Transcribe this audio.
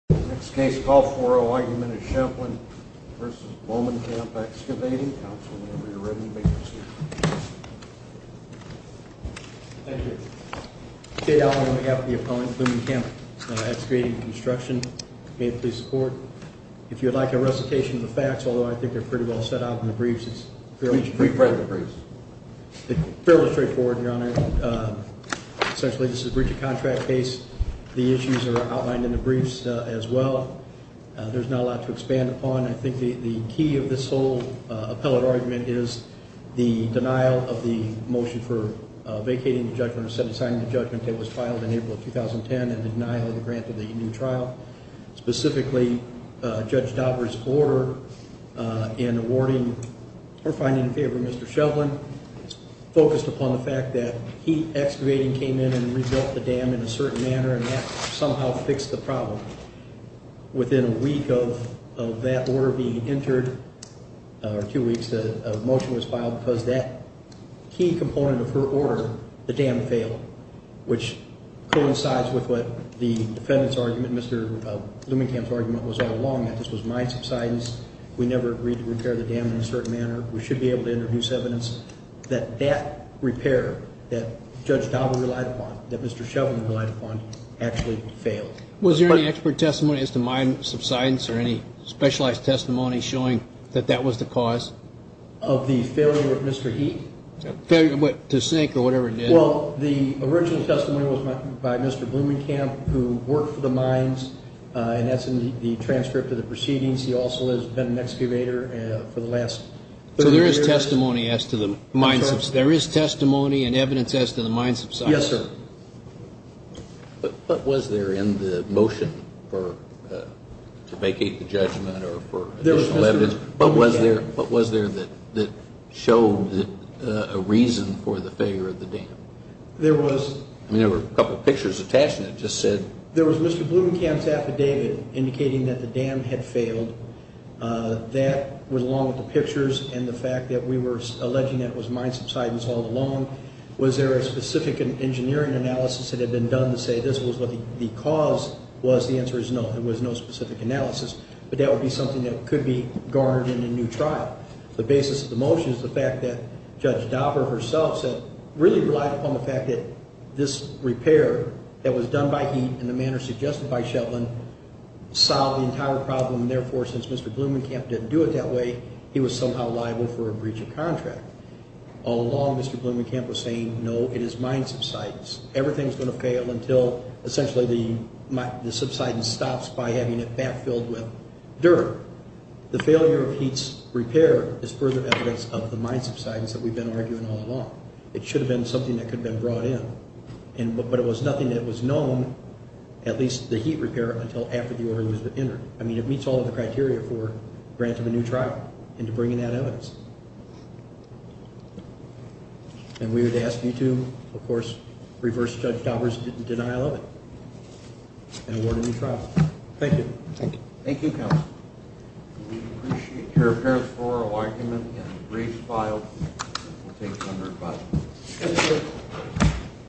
Next case, call 4-0. Argument is Shevlin v. Blomenkamp Excavating. Counsel, whenever you're ready, make your statement. Thank you. Jay Allen, Blomenkamp, the opponent, Blomenkamp Excavating & Construction. May it please the Court. If you would like a recitation of the facts, although I think they're pretty well set out in the briefs, it's fairly straightforward. We've read the briefs. There's not a lot to expand upon. I think the key of this whole appellate argument is the denial of the motion for vacating the judgment, or signing the judgment that was filed in April of 2010, and the denial of the grant of the trial. Specifically, Judge Dauber's order in awarding or finding in favor of Mr. Shevlin focused upon the fact that he, excavating, came in and rebuilt the dam in a certain manner, and that somehow fixed the problem. Within a week of that order being entered, or two weeks, that a motion was filed, because that key component of her order, the dam failed, which coincides with what the defendant's argument, Mr. Blomenkamp's argument, was all along, that this was my subsidence, we never agreed to repair the dam in a certain manner, we should be able to introduce evidence that that repair that Judge Dauber relied upon, that Mr. Shevlin relied upon, actually failed. Was there any expert testimony as to my subsidence, or any specialized testimony showing that that was the cause? Of the failure of Mr. Heath? The snake, or whatever it did. Well, the original testimony was by Mr. Blomenkamp, who worked for the mines, and that's in the transcript of the proceedings. He also has been an excavator for the last 30 years. So there is testimony as to the mine subsidence? There is testimony and evidence as to the mine subsidence. Yes, sir. But what was there in the motion to vacate the judgment, or for additional evidence? What was there that showed a reason for the failure of the dam? There was... I mean, there were a couple pictures attached, and it just said... There was Mr. Blomenkamp's affidavit indicating that the dam had failed. That, along with the pictures and the fact that we were alleging that it was mine subsidence all along, was there a specific engineering analysis that had been done to say this was what the cause was? The answer is no, there was no specific analysis. But that would be something that could be garnered in a new trial. The basis of the motion is the fact that Judge Dauber herself said, really relied upon the fact that this repair that was done by HEAT in the manner suggested by Shetland solved the entire problem, and therefore, since Mr. Blomenkamp didn't do it that way, he was somehow liable for a breach of contract. All along, Mr. Blomenkamp was saying, no, it is mine subsidence. Everything is going to fail until, essentially, the subsidence stops by having it backfilled with dirt. The failure of HEAT's repair is further evidence of the mine subsidence that we've been arguing all along. It should have been something that could have been brought in, but it was nothing that was known, at least the HEAT repair, until after the order was entered. I mean, it meets all of the criteria for granting a new trial and to bring in that evidence. And we would ask you to, of course, reverse Judge Dauber's denial of it and award a new trial. Thank you. Thank you, counsel. We appreciate your paraphrasal argument and brief file. We'll take one more question.